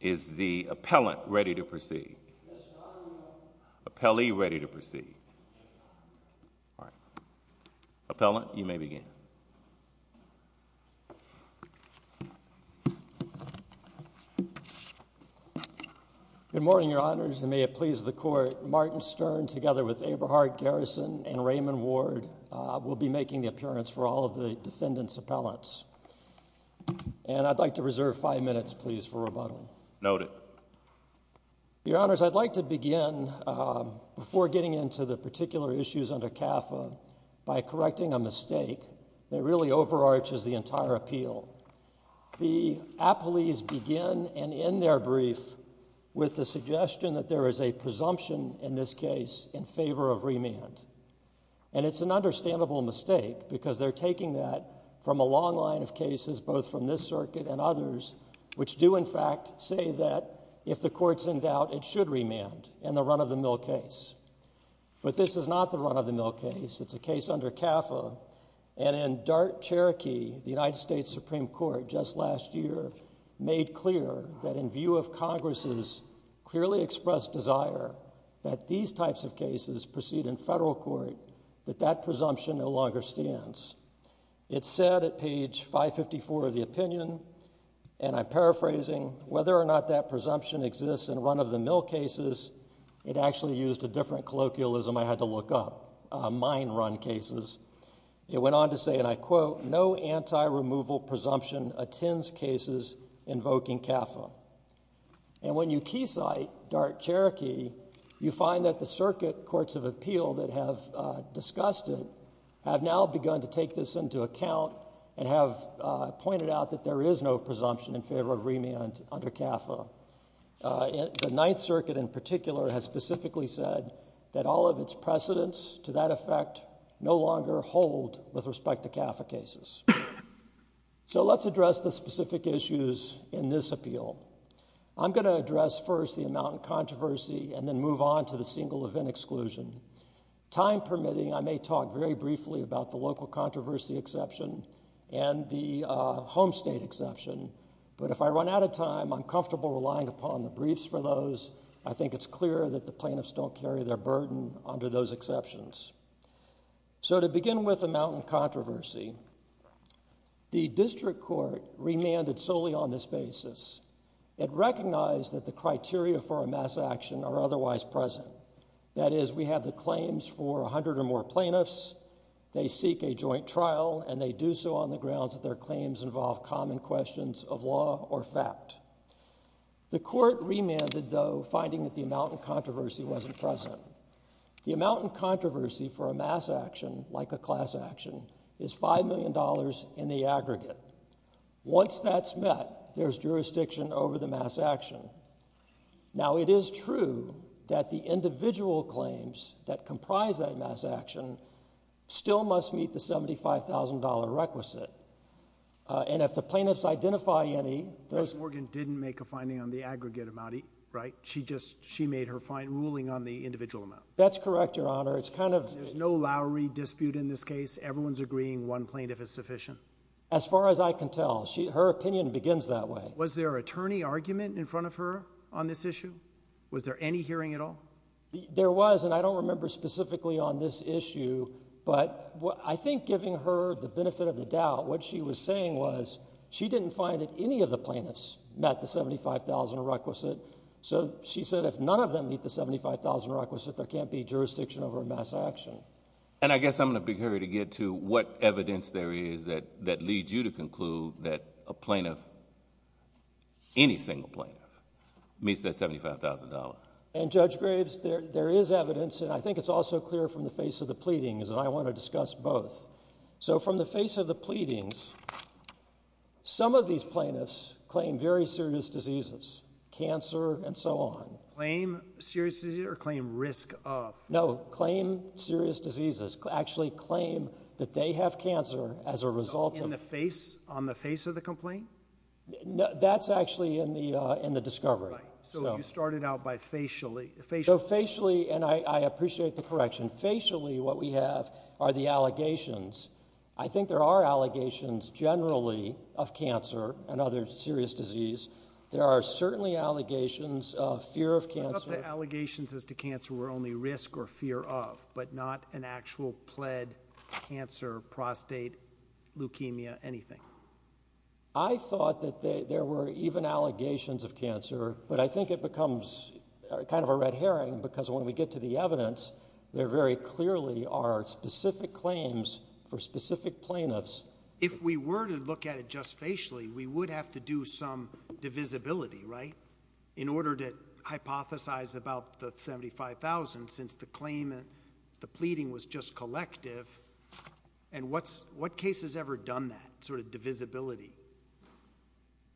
Is the appellant ready to proceed? Appellee ready to proceed? All right. Appellant, you may begin. Good morning, your honors, and may it please the court. Martin Stern, together with Eberhardt Garrison and Raymond Ward, will be making the appearance for all of the defendant's appellants. And I'd like to reserve five minutes, please, for rebuttal. Noted. Your honors, I'd like to begin, before getting into the particular issues under CAFA, by correcting a mistake that really overarches the entire appeal. The appellees begin and end their brief with the suggestion that there is a presumption, in this case, in favor of remand. And it's an understandable mistake, because they're taking that from a long line of cases, both from this circuit and others, which do, in fact, say that if the court's in doubt, it should remand in the run-of-the-mill case. But this is not the run-of-the-mill case. It's a case under CAFA. And in Dart, Cherokee, the United States Supreme Court, just last year, made clear that in view of Congress's clearly expressed desire that these types of cases proceed in federal court, that that presumption no longer stands. It said at page 554 of the opinion, and I'm paraphrasing, whether or not that presumption exists in run-of-the-mill cases, it actually used a different colloquialism I had to look up. Mine run cases. It went on to say, and I quote, no anti-removal presumption attends cases invoking CAFA. And when you keysight Dart, Cherokee, you find that the circuit courts of appeal that have discussed it have now begun to take this into account and have pointed out that there is no presumption in favor of remand under CAFA. The Ninth Circuit in particular has specifically said that all of its precedents to that effect no longer hold with respect to CAFA cases. So let's address the specific issues in this appeal. I'm going to address first the amount of controversy and then move on to the single event exclusion. Time permitting, I may talk very briefly about the local controversy exception and the home state exception. But if I run out of time, I'm comfortable relying upon the briefs for those. I think it's clear that the plaintiffs don't carry their burden under those exceptions. So to begin with the mountain controversy, the district court remanded solely on this basis. It recognized that the criteria for a mass action are otherwise present. That is, we have the claims for 100 or more plaintiffs. They seek a joint trial and they do so on the grounds that their claims involve common questions of law or fact. The court remanded, though, finding that the amount of controversy wasn't present. The amount of controversy for a mass action, like a class action, is $5 million in the aggregate. Once that's met, there's jurisdiction over the mass action. Now, it is true that the individual claims that comprise that mass action still must meet the $75,000 requisite. And if the plaintiffs identify any... Ms. Morgan didn't make a finding on the aggregate amount, right? She just, she made her ruling on the individual amount. That's correct, Your Honor. It's kind of... There's no Lowry dispute in this case. Everyone's agreeing one plaintiff is sufficient. As far as I can tell, her opinion begins that way. Was there an attorney argument in front of her on this issue? Was there any hearing at all? There was, and I don't remember specifically on this issue. But I think giving her the benefit of the doubt, what she was saying was she didn't find that any of the plaintiffs met the $75,000 requisite. So she said if none of them meet the $75,000 requisite, there can't be jurisdiction over a mass action. And I guess I'm in a big hurry to get to what evidence there is that leads you to conclude that a plaintiff, any single plaintiff, meets that $75,000. And Judge Graves, there is evidence, and I think it's also clear from the face of the pleadings, and I want to discuss both. So from the face of the pleadings, some of these plaintiffs claim very serious diseases, cancer and so on. Claim serious disease or claim risk of? No, claim serious diseases. Actually claim that they have cancer as a result of. In the face, on the face of the complaint? That's actually in the discovery. So you started out by facially. So facially, and I appreciate the correction. Facially, what we have are the allegations. I think there are allegations generally of cancer and other serious disease. There are certainly allegations of fear of cancer. Allegations as to cancer were only risk or fear of, but not an actual pled cancer, prostate, leukemia, anything. I thought that there were even allegations of cancer, but I think it becomes kind of a red herring because when we get to the evidence, there very clearly are specific claims for specific plaintiffs. If we were to look at it just facially, we would have to do some divisibility, right? In order to hypothesize about the 75,000, since the claim, the pleading was just collective. And what's, what case has ever done that sort of divisibility?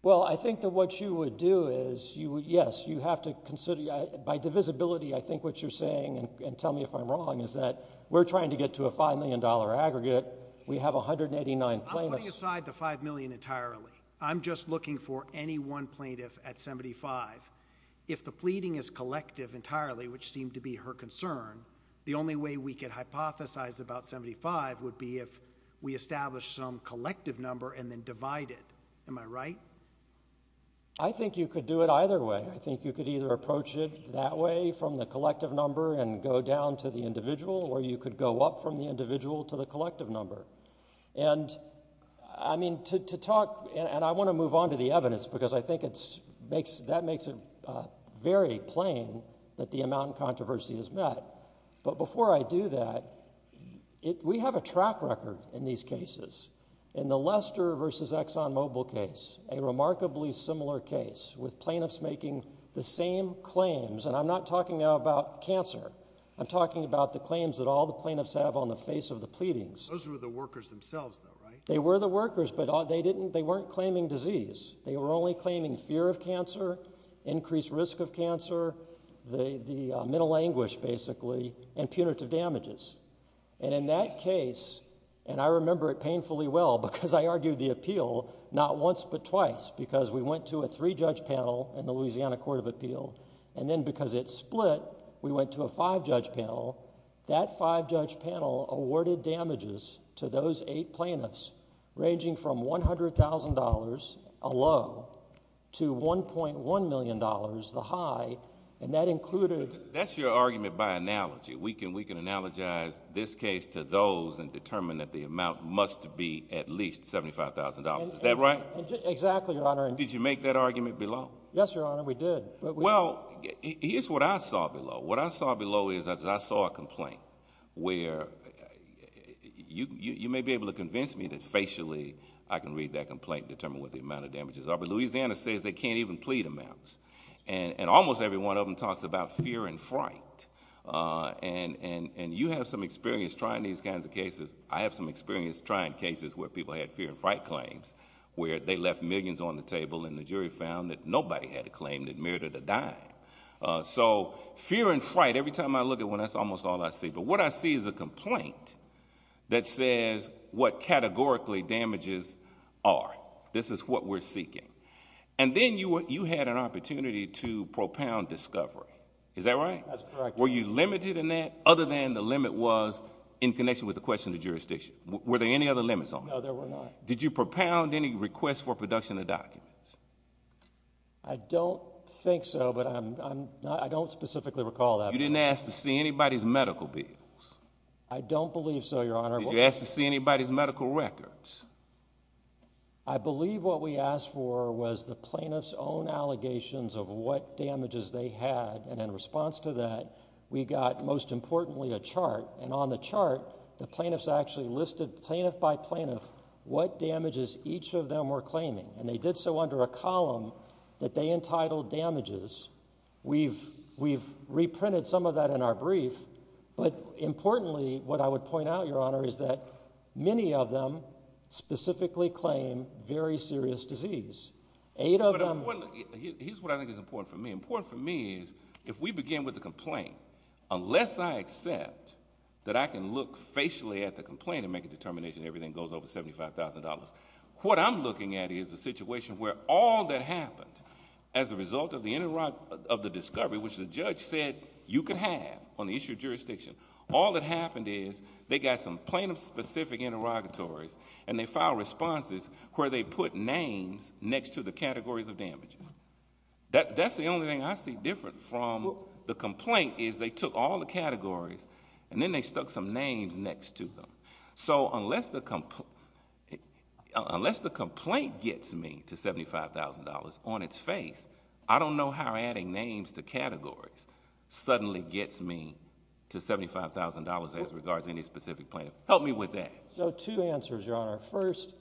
Well, I think that what you would do is you, yes, you have to consider by divisibility. I think what you're saying and tell me if I'm wrong is that we're trying to get to a $5 million aggregate. We have 189 plaintiffs. I'm putting aside the $5 million entirely. I'm just looking for any one plaintiff at 75. If the pleading is collective entirely, which seemed to be her concern, the only way we could hypothesize about 75 would be if we establish some collective number and then divide it. Am I right? I think you could do it either way. I think you could either approach it that way from the collective number and go down to the individual, or you could go up from the individual to the collective number. And I mean, to talk, and I want to move on to the evidence, because I think it's makes, that makes it very plain that the amount of controversy is met. But before I do that, we have a track record in these cases. In the Lester versus ExxonMobil case, a remarkably similar case with plaintiffs making the same claims. And I'm not talking about cancer. I'm talking about the claims that all the plaintiffs have on the face of the pleadings. Those were the workers themselves, though, right? They were the workers, but they didn't, they weren't claiming disease. They were only claiming fear of cancer, increased risk of cancer, the mental anguish, basically, and punitive damages. And in that case, and I remember it painfully well, because I argued the appeal not once but twice, because we went to a three-judge panel in the Louisiana Court of Appeal. And then because it split, we went to a five-judge panel. That five-judge panel awarded damages to those eight plaintiffs, ranging from $100,000, a low, to $1.1 million, the high, and that included— That's your argument by analogy. We can, we can analogize this case to those and determine that the amount must be at least $75,000. Is that right? Exactly, Your Honor. Did you make that argument below? Yes, Your Honor, we did. Well, here's what I saw below. What I saw below is I saw a complaint where you may be able to convince me that facially I can read that complaint, determine what the amount of damages are. But Louisiana says they can't even plead amounts. And almost every one of them talks about fear and fright. And you have some experience trying these kinds of cases. I have some experience trying cases where people had fear and fright claims, where they left millions on the table, and the jury found that nobody had a claim that merited a dime. So fear and fright, every time I look at one, that's almost all I see. But what I see is a complaint that says what categorically damages are. This is what we're seeking. And then you had an opportunity to propound discovery. Is that right? That's correct, Your Honor. Were you limited in that other than the limit was in connection with the question of jurisdiction? Were there any other limits on that? No, there were not. Did you propound any request for production of documents? I don't think so, but I don't specifically recall that. You didn't ask to see anybody's medical bills? I don't believe so, Your Honor. Did you ask to see anybody's medical records? I believe what we asked for was the plaintiff's own allegations of what damages they had. And in response to that, we got, most importantly, a chart. And on the chart, the plaintiffs actually listed, plaintiff by plaintiff, what damages each of them were claiming. And they did so under a column that they entitled damages. We've reprinted some of that in our brief. But importantly, what I would point out, Your Honor, is that many of them specifically claim very serious disease. Here's what I think is important for me. Important for me is if we begin with the complaint, unless I accept that I can look facially at the complaint and make a determination everything goes over $75,000, what I'm looking at is a situation where all that happened as a result of the discovery, which the judge said you could have on the issue of jurisdiction, all that happened is they got some plaintiff-specific interrogatories and they filed responses where they put names next to the categories of damages. That's the only thing I see different from the complaint is they took all the categories and then they stuck some names next to them. So unless the complaint gets me to $75,000 on its face, I don't know how adding names to categories suddenly gets me to $75,000 as regards to any specific plaintiff. Help me with that. So two answers, Your Honor. First,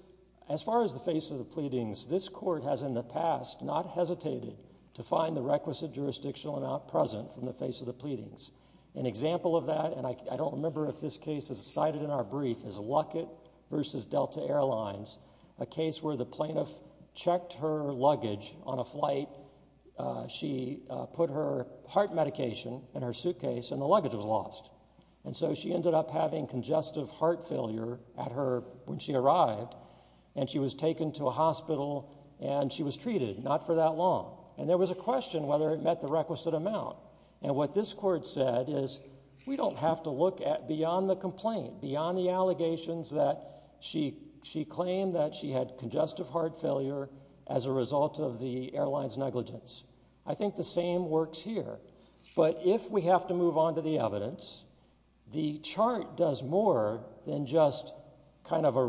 as far as the face of the pleadings, this court has in the past not hesitated to find the requisite jurisdictional amount present from the face of the pleadings. An example of that, and I don't remember if this case is cited in our brief, is Luckett versus Delta Airlines, a case where the plaintiff checked her luggage on a flight. She put her heart medication in her suitcase and the luggage was lost. And so she ended up having congestive heart failure at her when she arrived and she was taken to a hospital and she was treated, not for that long. And there was a question whether it met the requisite amount. And what this court said is we don't have to look at beyond the complaint, beyond the allegations that she claimed that she had congestive heart failure as a result of the airline's negligence. I think the same works here. But if we have to move on to the evidence, the chart does more than just kind of a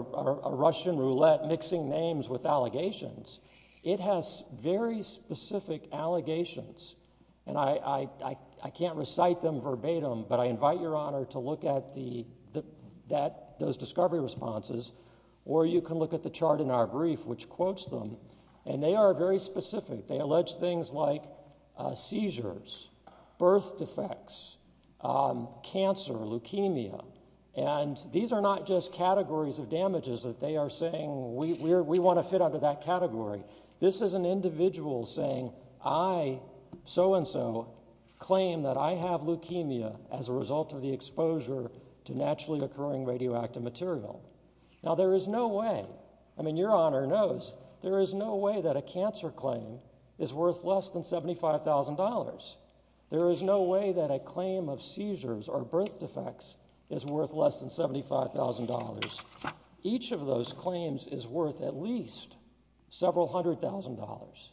Russian roulette mixing names with allegations. It has very specific allegations. And I can't recite them verbatim, but I invite your honor to look at those discovery responses. Or you can look at the chart in our brief, which quotes them. And they are very specific. They allege things like seizures, birth defects, cancer, leukemia. And these are not just categories of damages that they are saying we want to fit under that category. This is an individual saying, I, so and so, claim that I have leukemia as a result of the exposure to naturally occurring radioactive material. Now, there is no way, I mean, your honor knows, there is no way that a cancer claim is worth less than $75,000. There is no way that a claim of seizures or birth defects is worth less than $75,000. Each of those claims is worth at least several hundred thousand dollars.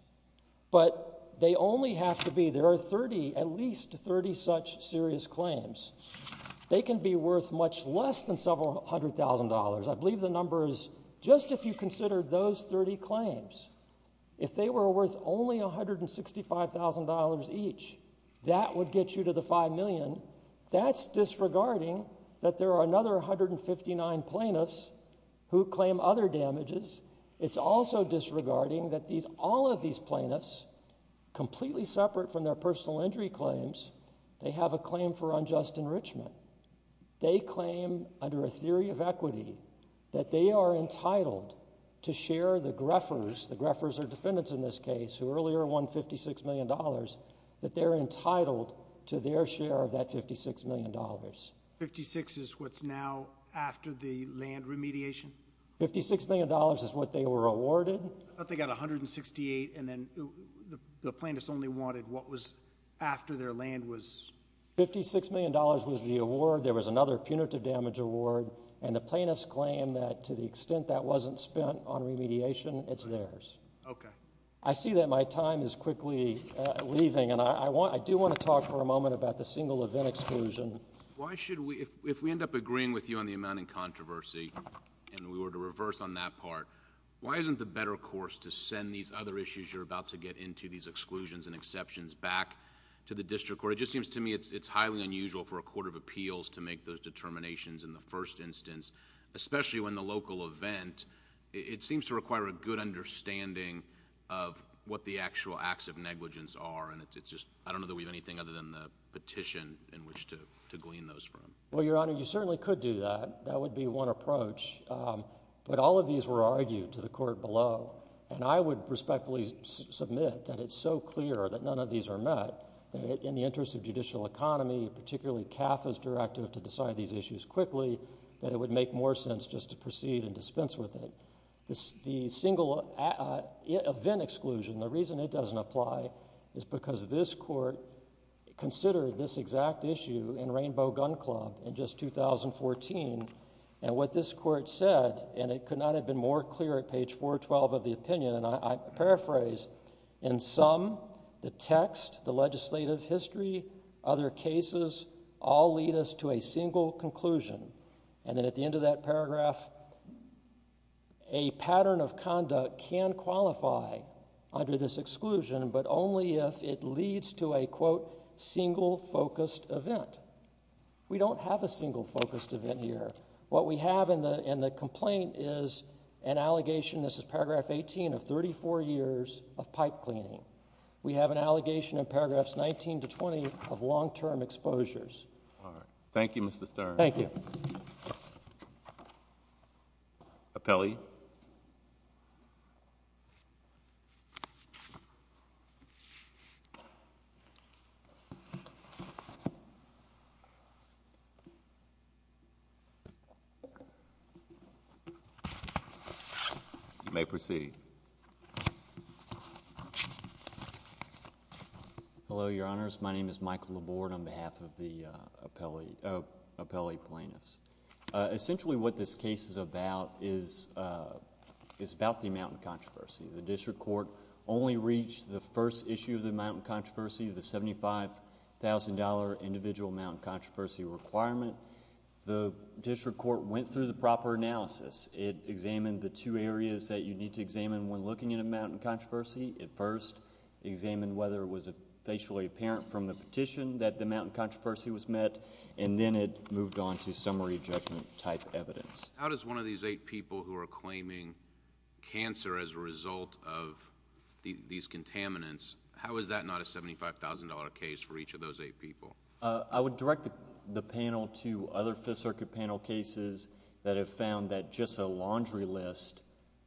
But they only have to be, there are 30, at least 30 such serious claims. They can be worth much less than several hundred thousand dollars. I believe the number is just if you consider those 30 claims, if they were worth only $165,000 each, that would get you to the five million. That's disregarding that there are another 159 plaintiffs who claim other damages. It's also disregarding that these, all of these plaintiffs, completely separate from their personal injury claims, they have a claim for unjust enrichment. They claim under a theory of equity that they are entitled to share the Greffers, the Greffers are defendants in this case, who earlier won $56 million, that they're entitled to their share of that $56 million. 56 is what's now after the land remediation? $56 million is what they were awarded. They got 168 and then the plaintiffs only wanted what was after their land was? $56 million was the award. There was another punitive damage award. And the plaintiffs claim that to the extent that wasn't spent on remediation, it's theirs. Okay. I see that my time is quickly leaving and I want, I do want to talk for a moment about the single event exclusion. Why should we, if we end up agreeing with you on the amount in controversy and we were to reverse on that part, why isn't the better course to send these other issues you're about to get into, these exclusions and exceptions back to the district court? It just seems to me it's highly unusual for a court of appeals to make those determinations in the first instance, especially when the local event, it seems to require a good understanding of what the actual acts of negligence are. And it's just, I don't know that we have anything other than the petition in which to, to glean those from. Well, Your Honor, you certainly could do that. That would be one approach. But all of these were argued to the court below. And I would respectfully submit that it's so clear that none of these are met that in the interest of judicial economy, particularly CAF is directive to decide these issues quickly, that it would make more sense just to proceed and dispense with it. This, the single event exclusion, the reason it doesn't apply is because this court considered this exact issue in Rainbow Gun Club in just 2014. And what this court said, and it could not have been more clear at page 412 of the opinion. And I paraphrase in some, the text, the legislative history, other cases, all lead us to a single conclusion. And then at the end of that paragraph, a pattern of conduct can qualify under this exclusion, but only if it leads to a quote, single focused event. We don't have a single focused event here. What we have in the, in the complaint is an allegation. This is paragraph 18 of 34 years of pipe cleaning. We have an allegation in paragraphs 19 to 20 of long-term exposures. All right. Thank you, Mr. Stern. Thank you. Appellee. You may proceed. Hello, Your Honors. My name is Michael Laborde on behalf of the appellee plaintiffs. Essentially what this case is about is, is about the mountain controversy. The district court only reached the first issue of the mountain controversy, the $75,000 individual mountain controversy requirement. The district court went through the proper analysis. It examined the two areas that you need to examine when looking at a mountain controversy. It first examined whether it was facially apparent from the petition that the mountain controversy was met, and then it moved on to summary judgment type evidence. How does one of these eight people who are claiming cancer as a result of these contaminants, how is that not a $75,000 case for each of those eight people? I would direct the panel to other Fifth Circuit panel cases that have found that just a laundry list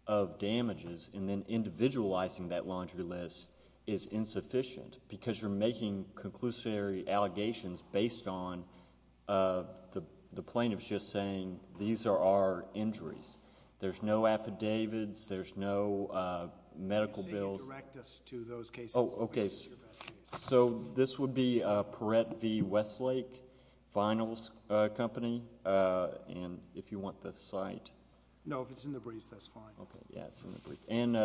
of damages, and then individualizing that laundry list is insufficient because you're making conclusory allegations based on the plaintiff's just saying these are our injuries. There's no affidavits. There's no medical bills. Can you direct us to those cases? Oh, okay. So this would be Perrette v. Westlake Finals Company. And if you want the site. No, if it's in the briefs, that's fine. Okay, yes, in the brief. In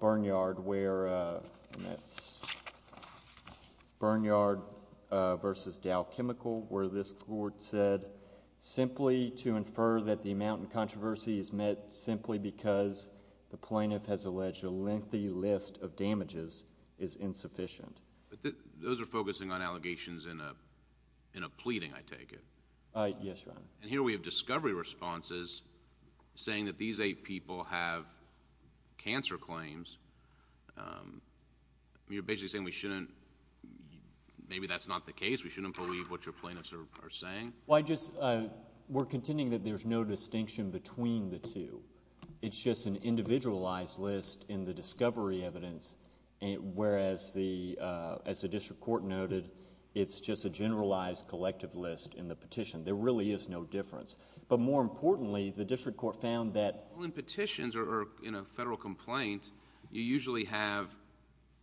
Bernyard where, and that's Bernyard v. Dow Chemical, where this court said simply to infer that the mountain controversy is met simply because the plaintiff has alleged a lengthy list of damages is insufficient. But those are focusing on allegations in a pleading, I take it? Yes, Your Honor. And here we have discovery responses saying that these eight people have cancer claims. You're basically saying we shouldn't, maybe that's not the case, we shouldn't believe what your plaintiffs are saying? Well, I just, we're contending that there's no distinction between the two. It's just an individualized list in the discovery evidence, whereas the, as the district court noted, it's just a generalized collective list in the petition. There really is no difference. But more importantly, the district court found that... In petitions or in a federal complaint, you usually have,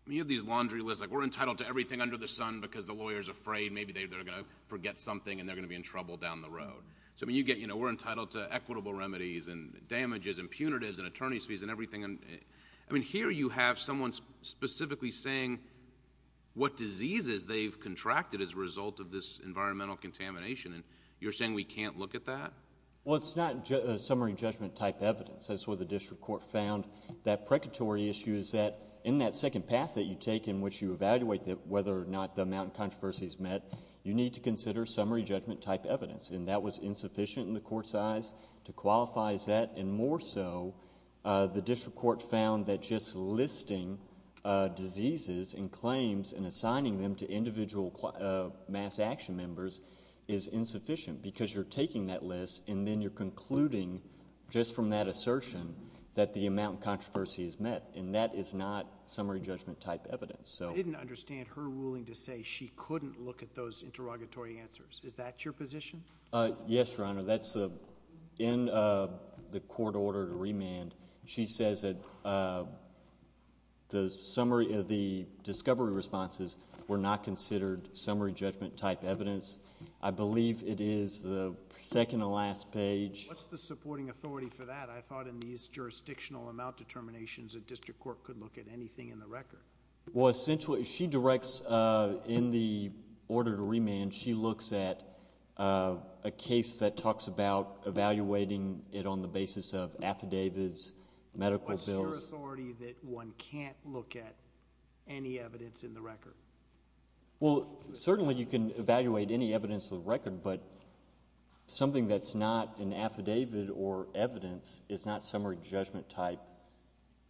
I mean, you have these laundry lists, like we're entitled to everything under the sun because the lawyer's afraid maybe they're going to forget something and they're going to be in trouble down the road. So, I mean, you get, you know, we're entitled to equitable remedies and damages and punitives and attorney's fees and everything. I mean, here you have someone specifically saying what diseases they've contracted as a result of this environmental contamination. And you're saying we can't look at that? Well, it's not a summary judgment type evidence. That's what the district court found. That precatory issue is that in that second path that you take in which you evaluate whether or not the amount of controversies met, you need to consider summary judgment type evidence. And that was insufficient in the court's eyes to qualify as that. And more so, the district court found that just listing diseases and claims and assigning them to individual mass action members is insufficient because you're taking that list and then you're concluding just from that assertion that the amount of controversy is met. And that is not summary judgment type evidence. I didn't understand her ruling to say she couldn't look at those interrogatory answers. Is that your position? That's in the court order to remand. She says that the discovery responses were not considered summary judgment type evidence. I believe it is the second to last page. What's the supporting authority for that? I thought in these jurisdictional amount determinations, a district court could look at anything in the record. Well, essentially, she directs in the order to remand, she looks at a case that talks about evaluating it on the basis of affidavits, medical bills. What's your authority that one can't look at any evidence in the record? Well, certainly you can evaluate any evidence of the record, but something that's not an affidavit or evidence is not summary judgment type.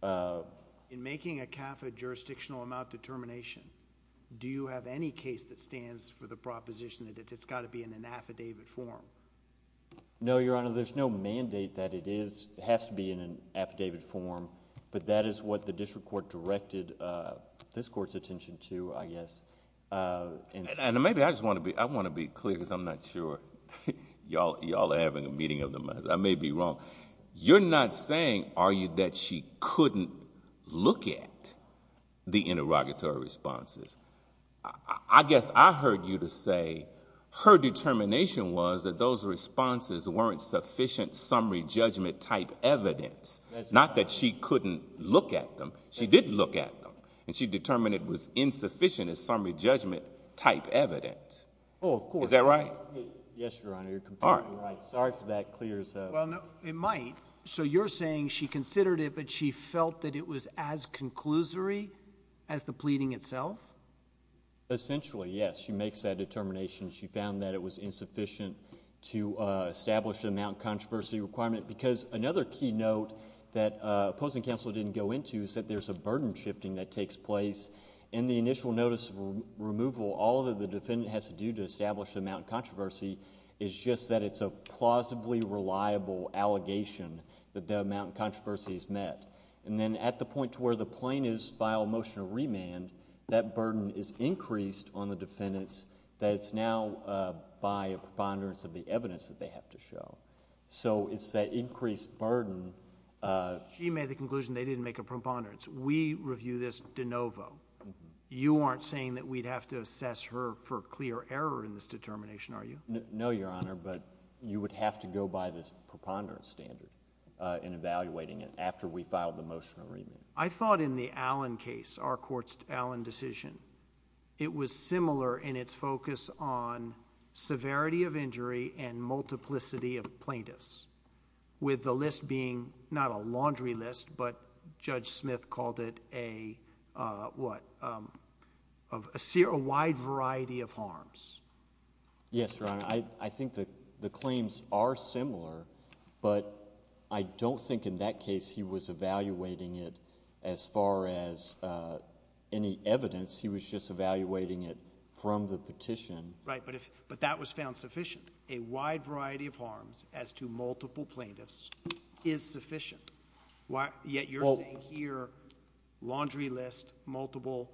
In making a CAFA jurisdictional amount determination, do you have any case that stands for the proposition that it's got to be in an affidavit form? No, Your Honor. There's no mandate that it has to be in an affidavit form, but that is what the district court directed this court's attention to, I guess. And maybe I just want to be clear because I'm not sure. Y'all are having a meeting of their minds. I may be wrong. You're not saying, are you, that she couldn't look at the interrogatory responses. I guess I heard you to say her determination was that those responses weren't sufficient summary judgment type evidence. Not that she couldn't look at them. She did look at them, and she determined it was insufficient as summary judgment type evidence. Oh, of course. Is that right? Yes, Your Honor. You're completely right. Sorry for that. It might. So you're saying she considered it, but she felt that it was as conclusory as the pleading itself? Essentially, yes. She makes that determination. She found that it was insufficient to establish the amount of controversy requirement. Because another key note that opposing counsel didn't go into is that there's a burden shifting that takes place in the initial notice of removal. All that the defendant has to do to establish the amount of controversy is just that it's a plausibly reliable allegation that the amount of controversy is met. And then at the point to where the plaintiff's file motion of remand, that burden is increased on the defendants that it's now by a preponderance of the evidence that they have to show. So it's that increased burden. She made the conclusion they didn't make a preponderance. We review this de novo. You aren't saying that we'd have to assess her for clear error in this determination, are you? No, Your Honor, but you would have to go by this preponderance standard in evaluating it after we filed the motion of remand. I thought in the Allen case, our court's Allen decision, it was similar in its focus on severity of injury and multiplicity of plaintiffs. With the list being not a laundry list, but Judge Smith called it a wide variety of harms. Yes, Your Honor. I think the claims are similar, but I don't think in that case he was evaluating it as far as any evidence. He was just evaluating it from the petition. Right, but that was found sufficient. A wide variety of harms as to multiple plaintiffs is sufficient. Yet you're saying here, laundry list, multiple,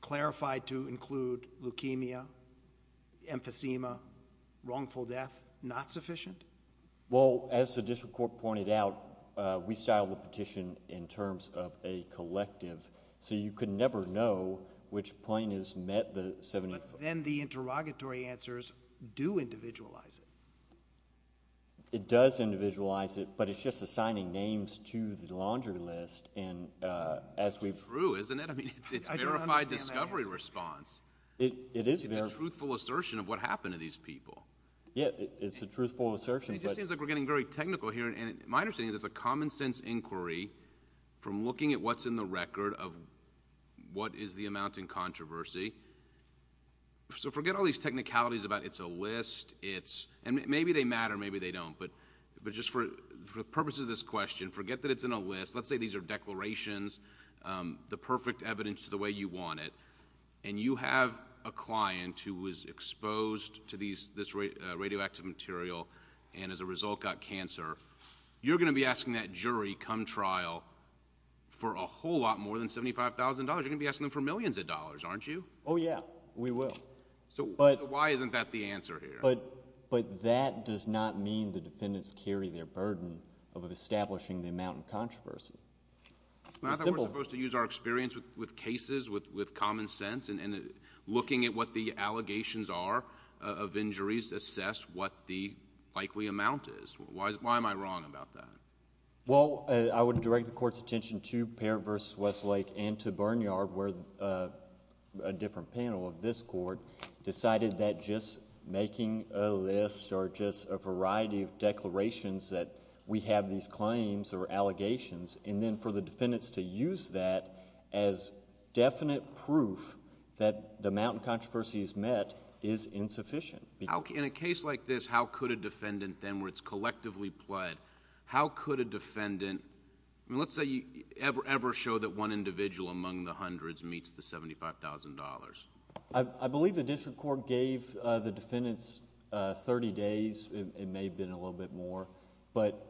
clarified to include leukemia, emphysema, wrongful death, not sufficient? Well, as the district court pointed out, we styled the petition in terms of a collective. So you could never know which plaintiff's met the 75. But then the interrogatory answers do individualize it. It does individualize it, but it's just assigning names to the laundry list. That's true, isn't it? I mean, it's verified discovery response. It is. It's a truthful assertion of what happened to these people. Yeah, it's a truthful assertion. It just seems like we're getting very technical here. And my understanding is it's a common sense inquiry from looking at what's in the record of what is the amount in controversy. So forget all these technicalities about it's a list, it's, and maybe they matter, maybe they don't. But just for the purposes of this question, forget that it's in a list. Let's say these are declarations, the perfect evidence to the way you want it, and you have a client who was exposed to this radioactive material and as a result got cancer, you're going to be asking that jury come trial for a whole lot more than $75,000. You're going to be asking them for millions of dollars, aren't you? Oh, yeah, we will. So why isn't that the answer here? But that does not mean the defendants carry their burden of establishing the amount in controversy. I thought we were supposed to use our experience with cases, with common sense, and looking at what the allegations are of injuries, assess what the likely amount is. Why am I wrong about that? Well, I would direct the court's attention to Parent v. Westlake and to Burn Yard where a different panel of this court decided that just making a list or just a variety of declarations that we have these claims or allegations, and then for the defendants to use that as definite proof that the amount in controversy is met is insufficient. In a case like this, how could a defendant then where it's collectively pled, how could a defendant... I mean, let's say you ever show that one individual among the hundreds meets the $75,000. I believe the district court gave the defendants 30 days. It may have been a little bit more, but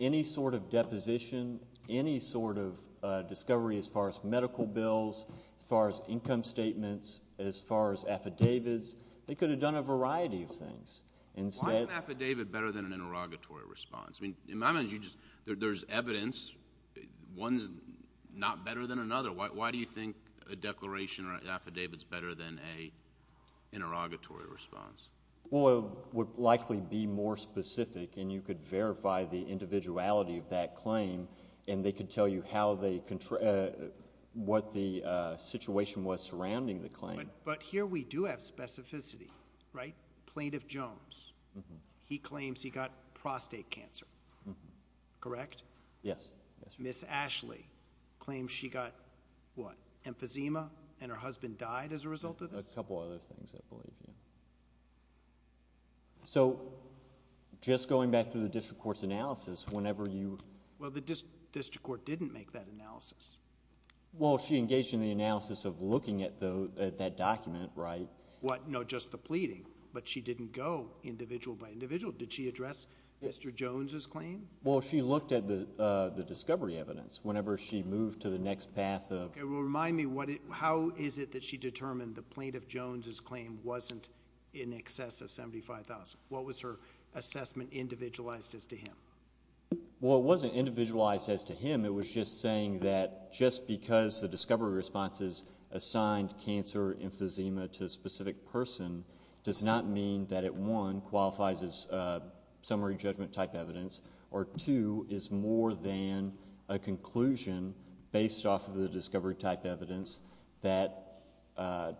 any sort of deposition, any sort of discovery as far as medical bills, as far as income statements, as far as affidavits, they could have done a variety of things. Why is an affidavit better than an interrogatory response? I mean, in my mind, there's evidence. One's not better than another. Why do you think a declaration or an affidavit is better than an interrogatory response? Well, it would likely be more specific, and you could verify the individuality of that claim, and they could tell you how they... what the situation was surrounding the claim. But here we do have specificity, right? Plaintiff Jones, he claims he got prostate cancer, correct? Yes. Ms. Ashley claims she got what? Emphysema, and her husband died as a result of this? A couple of other things, I believe, yeah. So, just going back to the district court's analysis, whenever you... Well, the district court didn't make that analysis. Well, she engaged in the analysis of looking at that document, right? What? No, just the pleading, but she didn't go individual by individual. Did she address Mr. Jones' claim? Well, she looked at the discovery evidence. Whenever she moved to the next path of... Remind me, how is it that she determined the plaintiff Jones' claim wasn't in excess of $75,000? What was her assessment individualized as to him? Well, it wasn't individualized as to him. It was just saying that just because the discovery response is assigned cancer, emphysema to a specific person does not mean that it, one, qualifies as summary judgment type evidence, or two, is more than a conclusion based off of the discovery type evidence that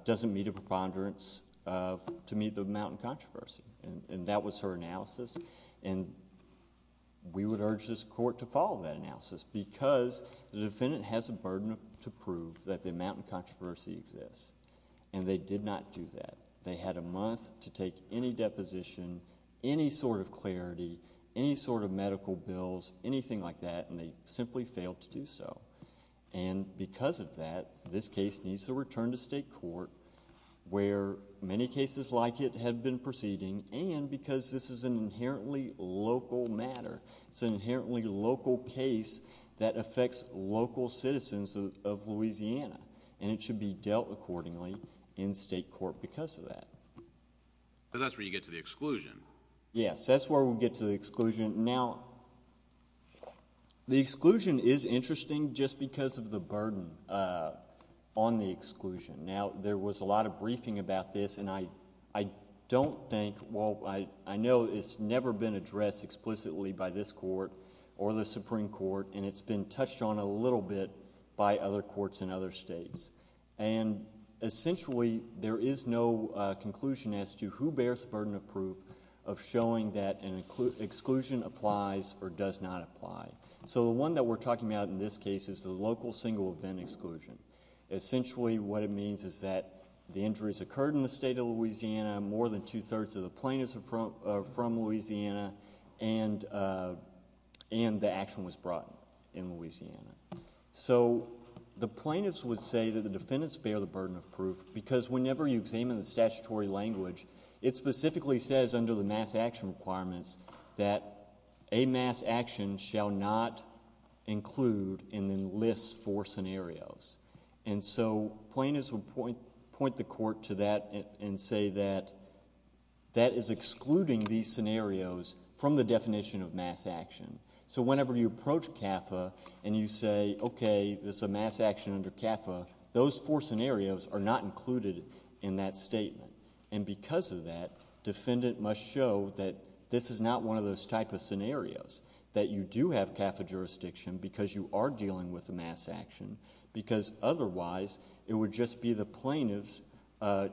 doesn't meet a preponderance to meet the amount of controversy, and that was her analysis. We would urge this court to follow that analysis because the defendant has a burden to prove that the amount of controversy exists, and they did not do that. They had a month to take any deposition, any sort of clarity, any sort of medical bills, anything like that, and they simply failed to do so, and because of that, this case needs to return to state court where many cases like it have been proceeding, and because this is an inherently local matter. It's an inherently local case that affects local citizens of Louisiana, and it should be dealt accordingly in state court because of that. So that's where you get to the exclusion. Yes, that's where we get to the exclusion. Now, the exclusion is interesting just because of the burden on the exclusion. Now, there was a lot of briefing about this, and I don't think, well, I know it's never been addressed explicitly by this court or the Supreme Court, and it's been touched on a little bit by other courts in other states, and essentially, there is no conclusion as to who bears the burden of proof of showing that an exclusion applies or does not apply. So the one that we're talking about in this case is the local single event exclusion. Essentially, what it means is that the injuries occurred in the state of Louisiana, more than So the plaintiffs would say that the defendants bear the burden of proof because whenever you examine the statutory language, it specifically says under the mass action requirements that a mass action shall not include in the list four scenarios. And so plaintiffs would point the court to that and say that that is excluding these scenarios from the definition of mass action. So whenever you approach CAFA and you say, okay, there's a mass action under CAFA, those four scenarios are not included in that statement. And because of that, defendant must show that this is not one of those type of scenarios, that you do have CAFA jurisdiction because you are dealing with a mass action, because otherwise, it would just be the plaintiffs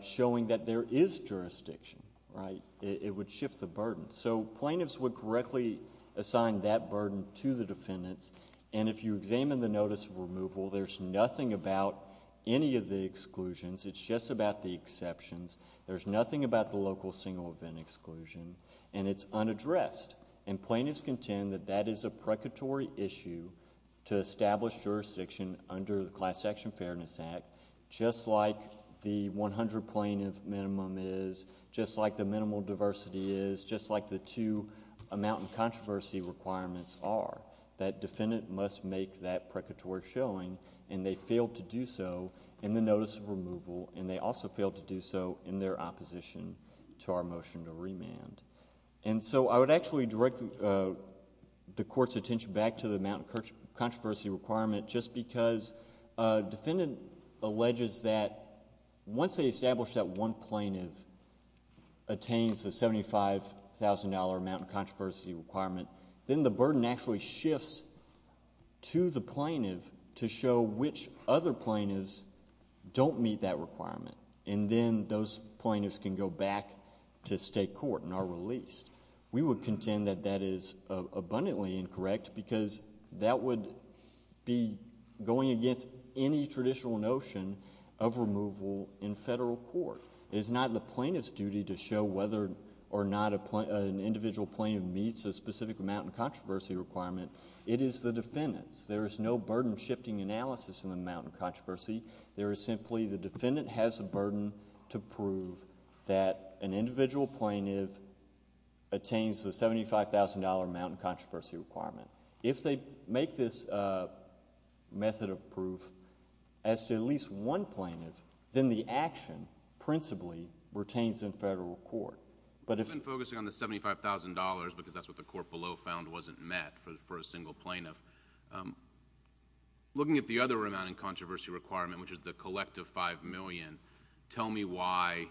showing that there is jurisdiction, right? It would shift the burden. So plaintiffs would correctly assign that burden to the defendants. And if you examine the notice of removal, there's nothing about any of the exclusions. It's just about the exceptions. There's nothing about the local single event exclusion. And it's unaddressed. And plaintiffs contend that that is a precatory issue to establish jurisdiction under the Class Action Fairness Act, just like the 100 plaintiff minimum is, just like the minimal diversity is, just like the two amount and controversy requirements are, that defendant must make that precatory showing. And they failed to do so in the notice of removal. And they also failed to do so in their opposition to our motion to remand. And so I would actually direct the Court's attention back to the amount controversy requirement just because a defendant alleges that once they establish that one plaintiff attains the $75,000 amount and controversy requirement, then the burden actually shifts to the plaintiff to show which other plaintiffs don't meet that requirement. And then those plaintiffs can go back to state court and are released. We would contend that that is abundantly incorrect because that would be going against any traditional notion of removal in federal court. It is not the plaintiff's duty to show whether or not an individual plaintiff meets a specific amount and controversy requirement. It is the defendant's. There is no burden-shifting analysis in the amount and controversy. There is simply the defendant has a burden to prove that an individual plaintiff attains the $75,000 amount and controversy requirement. If they make this method of proof as to at least one plaintiff, then the action principally retains in federal court. But if... I've been focusing on the $75,000 because that's what the court below found wasn't met for a single plaintiff. Looking at the other amount and controversy requirement, which is the collective $5,000,000, tell me why,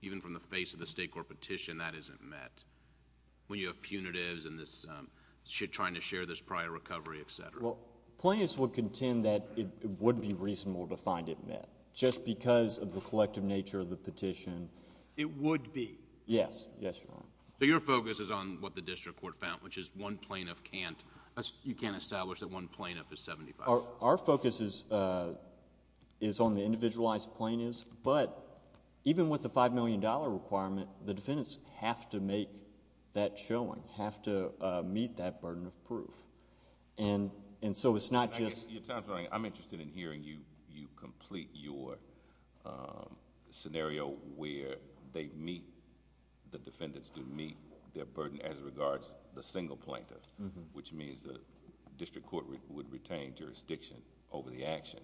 even from the face of the state court petition, that isn't met, when you have punitives and this trying to share this prior recovery, et cetera. Well, plaintiffs would contend that it would be reasonable to find it met. Just because of the collective nature of the petition... It would be. Yes. Yes, Your Honor. So your focus is on what the district court found, which is one plaintiff can't... You can't establish that one plaintiff is $75,000. Our focus is on the individualized plaintiffs, but even with the $5,000,000 requirement, the defendants have to make that showing, have to meet that burden of proof. So it's not just... Your time is running. I'm interested in hearing you complete your scenario where they meet, the defendants do meet their burden as regards the single plaintiff, which means the district court would retain jurisdiction over the action.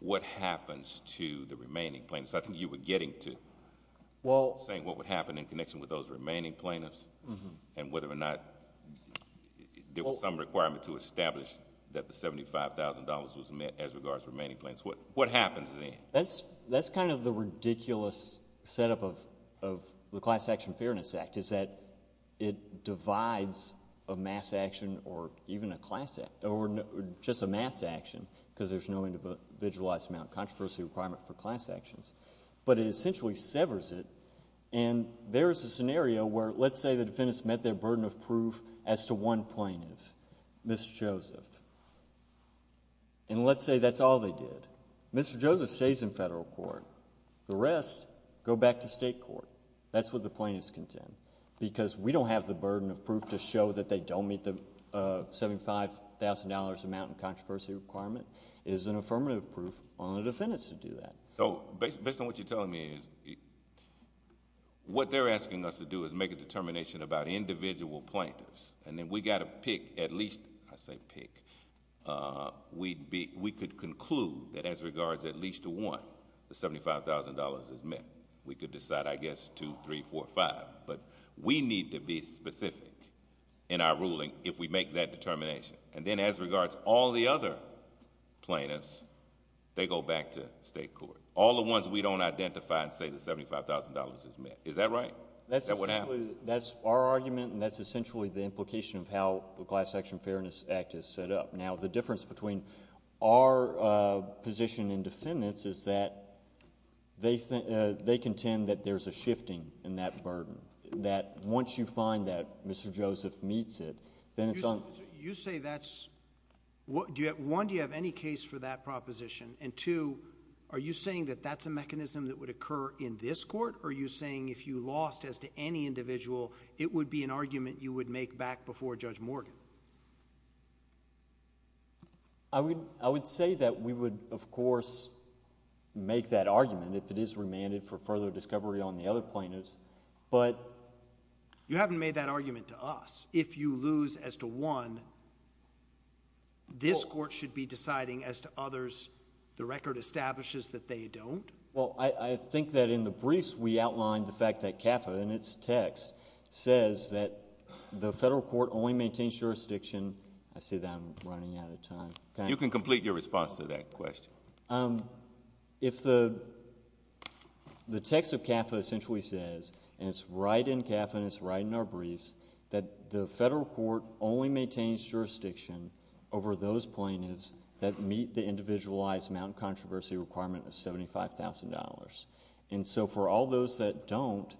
What happens to the remaining plaintiffs? I think you were getting to saying what would happen in connection with those remaining plaintiffs and whether or not there was some requirement to establish that the $75,000 was met as regards to remaining plaintiffs. What happens then? That's the ridiculous setup of the Class Action Fairness Act. It divides a mass action or even just a mass action because there's no individualized amount of controversy requirement for class actions, but it essentially severs it. There is a scenario where let's say the defendants met their burden of proof as to one plaintiff, Mr. Joseph, and let's say that's all they did. Mr. Joseph stays in federal court. The rest go back to state court. That's what the plaintiffs contend because we don't have the burden of proof to show that they don't meet the $75,000 amount of controversy requirement. It is an affirmative proof on the defendants to do that. Based on what you're telling me, what they're asking us to do is make a determination about individual plaintiffs and then we got to pick at least... I say pick. We could conclude that as regards at least to one, the $75,000 is met. We could decide I guess two, three, four, five, but we need to be specific in our ruling if we make that determination. Then as regards all the other plaintiffs, they go back to state court. All the ones we don't identify and say the $75,000 is met. Is that right? Is that what happened? That's our argument and that's essentially the implication of how the Class Action Fairness Act is set up. The difference between our position and defendants is that they contend that there's a shifting in that burden. Once you find that Mr. Joseph meets it, then it's on... You say that's... one, do you have any case for that proposition and two, are you saying that that's a mechanism that would occur in this court or are you saying if you lost as to any individual, it would be an argument you would make back before Judge Morgan? I would say that we would, of course, make that argument if it is remanded for further discovery on the other plaintiffs, but... You haven't made that argument to us. If you lose as to one, this court should be deciding as to others. The record establishes that they don't. Well, I think that in the briefs, we outlined the fact that CAFA in its text says that the You can complete your response to that question. If the text of CAFA essentially says, and it's right in CAFA and it's right in our briefs, that the federal court only maintains jurisdiction over those plaintiffs that meet the individualized amount of controversy requirement of $75,000, and so for all those that don't,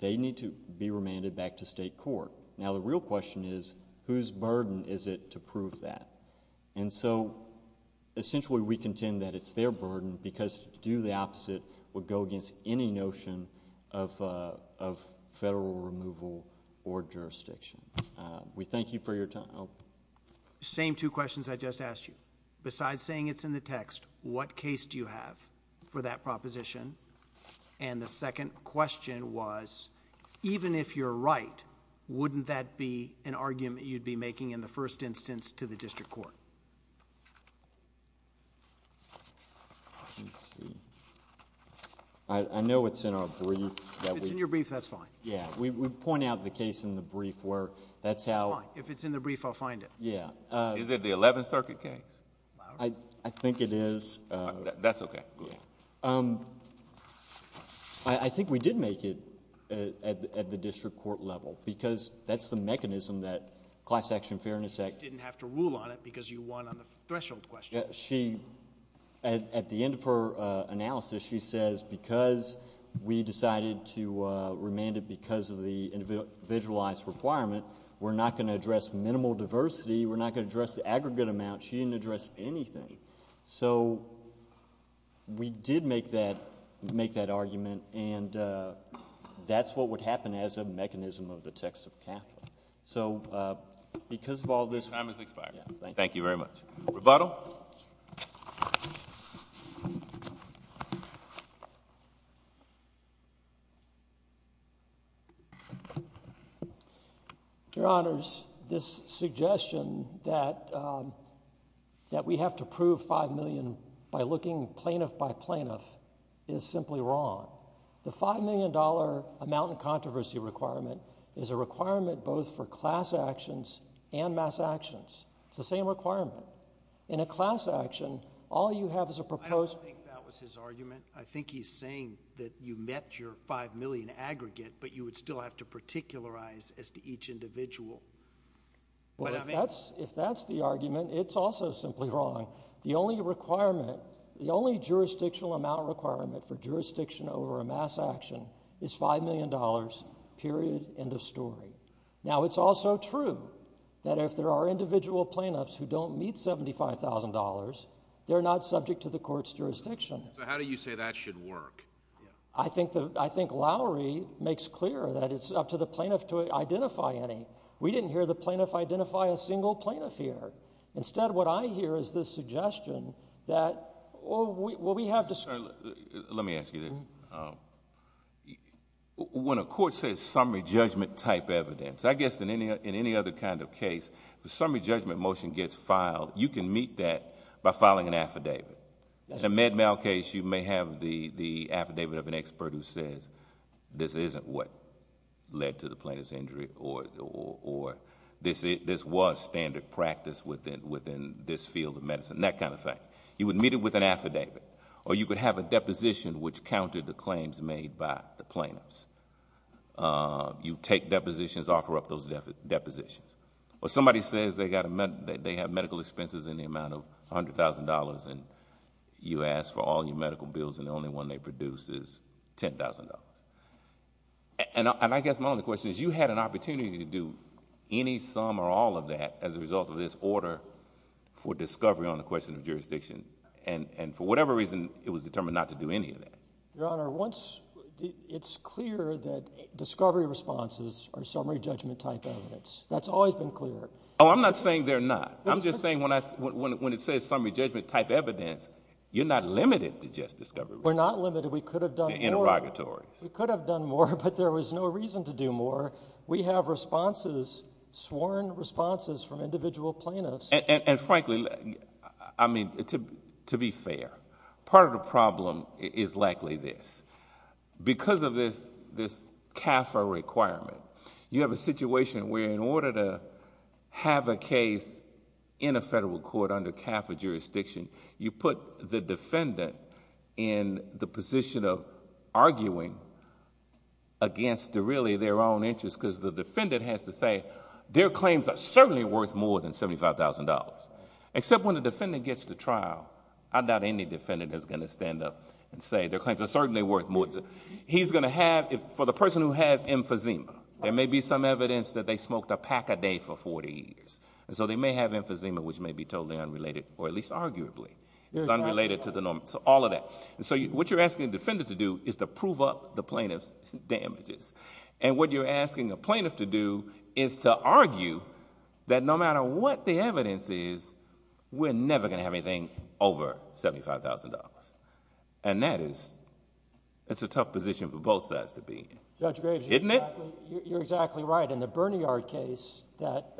they need to be remanded back to state court. Now, the real question is, whose burden is it to prove that? And so essentially, we contend that it's their burden because to do the opposite would go against any notion of federal removal or jurisdiction. We thank you for your time. Same two questions I just asked you. Besides saying it's in the text, what case do you have for that proposition? And the second question was, even if you're right, wouldn't that be an argument you'd be making in the first instance to the district court? Let's see. I know it's in our brief. If it's in your brief, that's fine. Yeah. We point out the case in the brief where that's how... It's fine. If it's in the brief, I'll find it. Yeah. Is it the Eleventh Circuit case? I think it is. That's okay. I think we did make it at the district court level because that's the mechanism that Class Action Fairness Act... Didn't have to rule on it because you won on the threshold question. She... at the end of her analysis, she says, because we decided to remand it because of the individualized requirement, we're not going to address minimal diversity. We're not going to address the aggregate amount. She didn't address anything. So we did make that argument, and that's what would happen as a mechanism of the text of Catholic. So because of all this... Your time has expired. Thank you very much. Rebuttal? Your Honors, this suggestion that we have to prove $5 million by looking plaintiff by plaintiff is simply wrong. The $5 million amount in controversy requirement is a requirement both for class actions and mass actions. It's the same requirement. In a class action, all you have is a proposed... I don't think that was his argument. I think he's saying that you met your $5 million aggregate, but you would still have to particularize as to each individual. Well, if that's the argument, it's also simply wrong. The only requirement, the only jurisdictional amount requirement for jurisdiction over a mass action is $5 million, period, end of story. Now, it's also true that if there are individual plaintiffs who don't meet $75,000, they're not subject to the court's jurisdiction. So how do you say that should work? I think Lowry makes clear that it's up to the plaintiff to identify any. We didn't hear the plaintiff identify a single plaintiff here. Instead, what I hear is this suggestion that... Let me ask you this. When a court says summary judgment type evidence, I guess in any other kind of case, the summary judgment motion gets filed, you can meet that by filing an affidavit. In a med mal case, you may have the affidavit of an expert who says, this isn't what led to the plaintiff's injury or this was standard practice within this field of medicine, that kind of thing. You would meet it with an affidavit. Or you could have a deposition which countered the claims made by the plaintiffs. You take depositions, offer up those depositions. Or somebody says they have medical expenses in the amount of $100,000 and you ask for all your medical bills and the only one they produce is $10,000. I guess my only question is, you had an opportunity to do any sum or all of that as a result of this order for discovery on the question of jurisdiction. For whatever reason, it was determined not to do any of that. Your Honor, it's clear that discovery responses are summary judgment type evidence. That's always been clear. Oh, I'm not saying they're not. I'm just saying when it says summary judgment type evidence, you're not limited to just discovery. We're not limited. We could have done more. To interrogatories. We could have done more, but there was no reason to do more. We have responses, sworn responses from individual plaintiffs. And frankly, to be fair, part of the problem is likely this. Because of this CAFA requirement, you have a situation where in order to have a case in a federal court under CAFA jurisdiction, you put the defendant in the has to say their claims are certainly worth more than $75,000. Except when the defendant gets to trial, I doubt any defendant is going to stand up and say their claims are certainly worth more. For the person who has emphysema, there may be some evidence that they smoked a pack a day for 40 years. So they may have emphysema, which may be totally unrelated or at least arguably is unrelated to the norm. So all of that. So what you're asking the defendant to do is to prove up the plaintiff's damages. And what you're asking a plaintiff to do is to argue that no matter what the evidence is, we're never going to have anything over $75,000. And that is, it's a tough position for both sides to be in. Judge Graves, you're exactly right. And the Berniard case that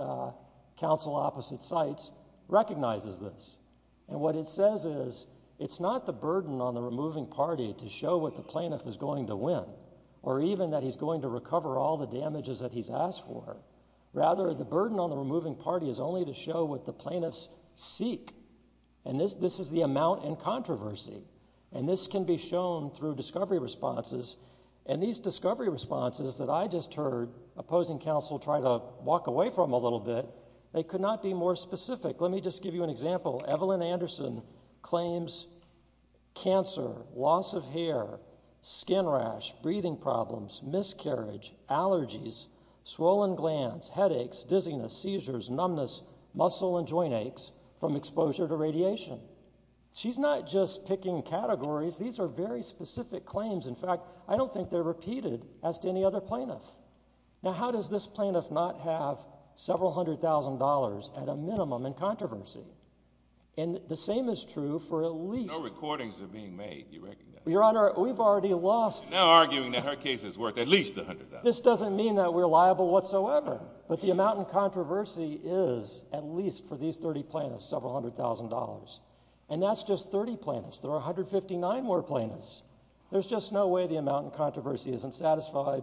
counsel opposite cites recognizes this. And what it says is, it's not the burden on the removing party to show what the plaintiff is going to win or even that he's going to recover all the damages that he's asked for. Rather, the burden on the removing party is only to show what the plaintiffs seek. And this is the amount and controversy. And this can be shown through discovery responses. And these discovery responses that I just heard opposing counsel try to walk away from a little bit, they could not be more specific. Let me just give you an example. Evelyn Anderson claims cancer, loss of hair, skin rash, breathing problems, miscarriage, allergies, swollen glands, headaches, dizziness, seizures, numbness, muscle and joint aches from exposure to radiation. She's not just picking categories. These are very specific claims. In fact, I don't think they're repeated as to any other plaintiff. Now, how does this plaintiff not have several hundred thousand dollars at a minimum in controversy? And the same is true for at least— No recordings are being made, you recognize. Your Honor, we've already lost— You're now arguing that her case is worth at least a hundred thousand. This doesn't mean that we're liable whatsoever. But the amount in controversy is at least, for these 30 plaintiffs, several hundred thousand dollars. And that's just 30 plaintiffs. There are 159 more plaintiffs. There's just no way the amount in controversy isn't satisfied.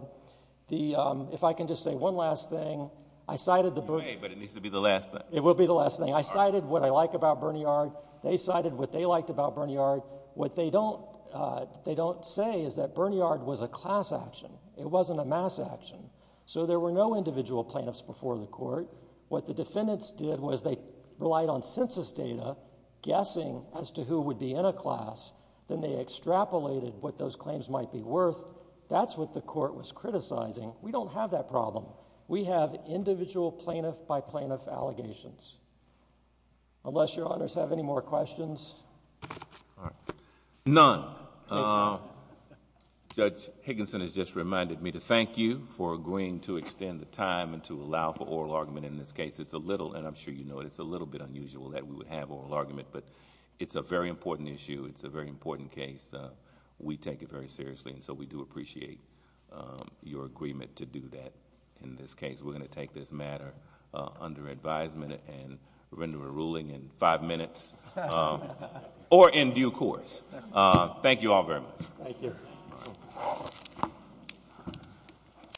If I can just say one last thing, I cited the— You may, but it needs to be the last thing. It will be the last thing. I cited what I like about Berniard. They cited what they liked about Berniard. What they don't say is that Berniard was a class action. It wasn't a mass action. So there were no individual plaintiffs before the court. What the defendants did was they relied on census data, guessing as to who would be in a class. Then they extrapolated what those claims might be worth. That's what the court was criticizing. We don't have that problem. We have individual plaintiff by plaintiff allegations. Unless your Honors have any more questions. All right. None. Judge Higginson has just reminded me to thank you for agreeing to extend the time and to allow for oral argument in this case. It's a little, and I'm sure you know it, it's a little bit unusual that we would have oral argument, but it's a very important issue. It's a very important case. We take it very seriously, and so we do appreciate your agreement to do that in this case. We're going to take this matter under advisement and render a ruling in five minutes or in due course. Thank you all very much. Thank you.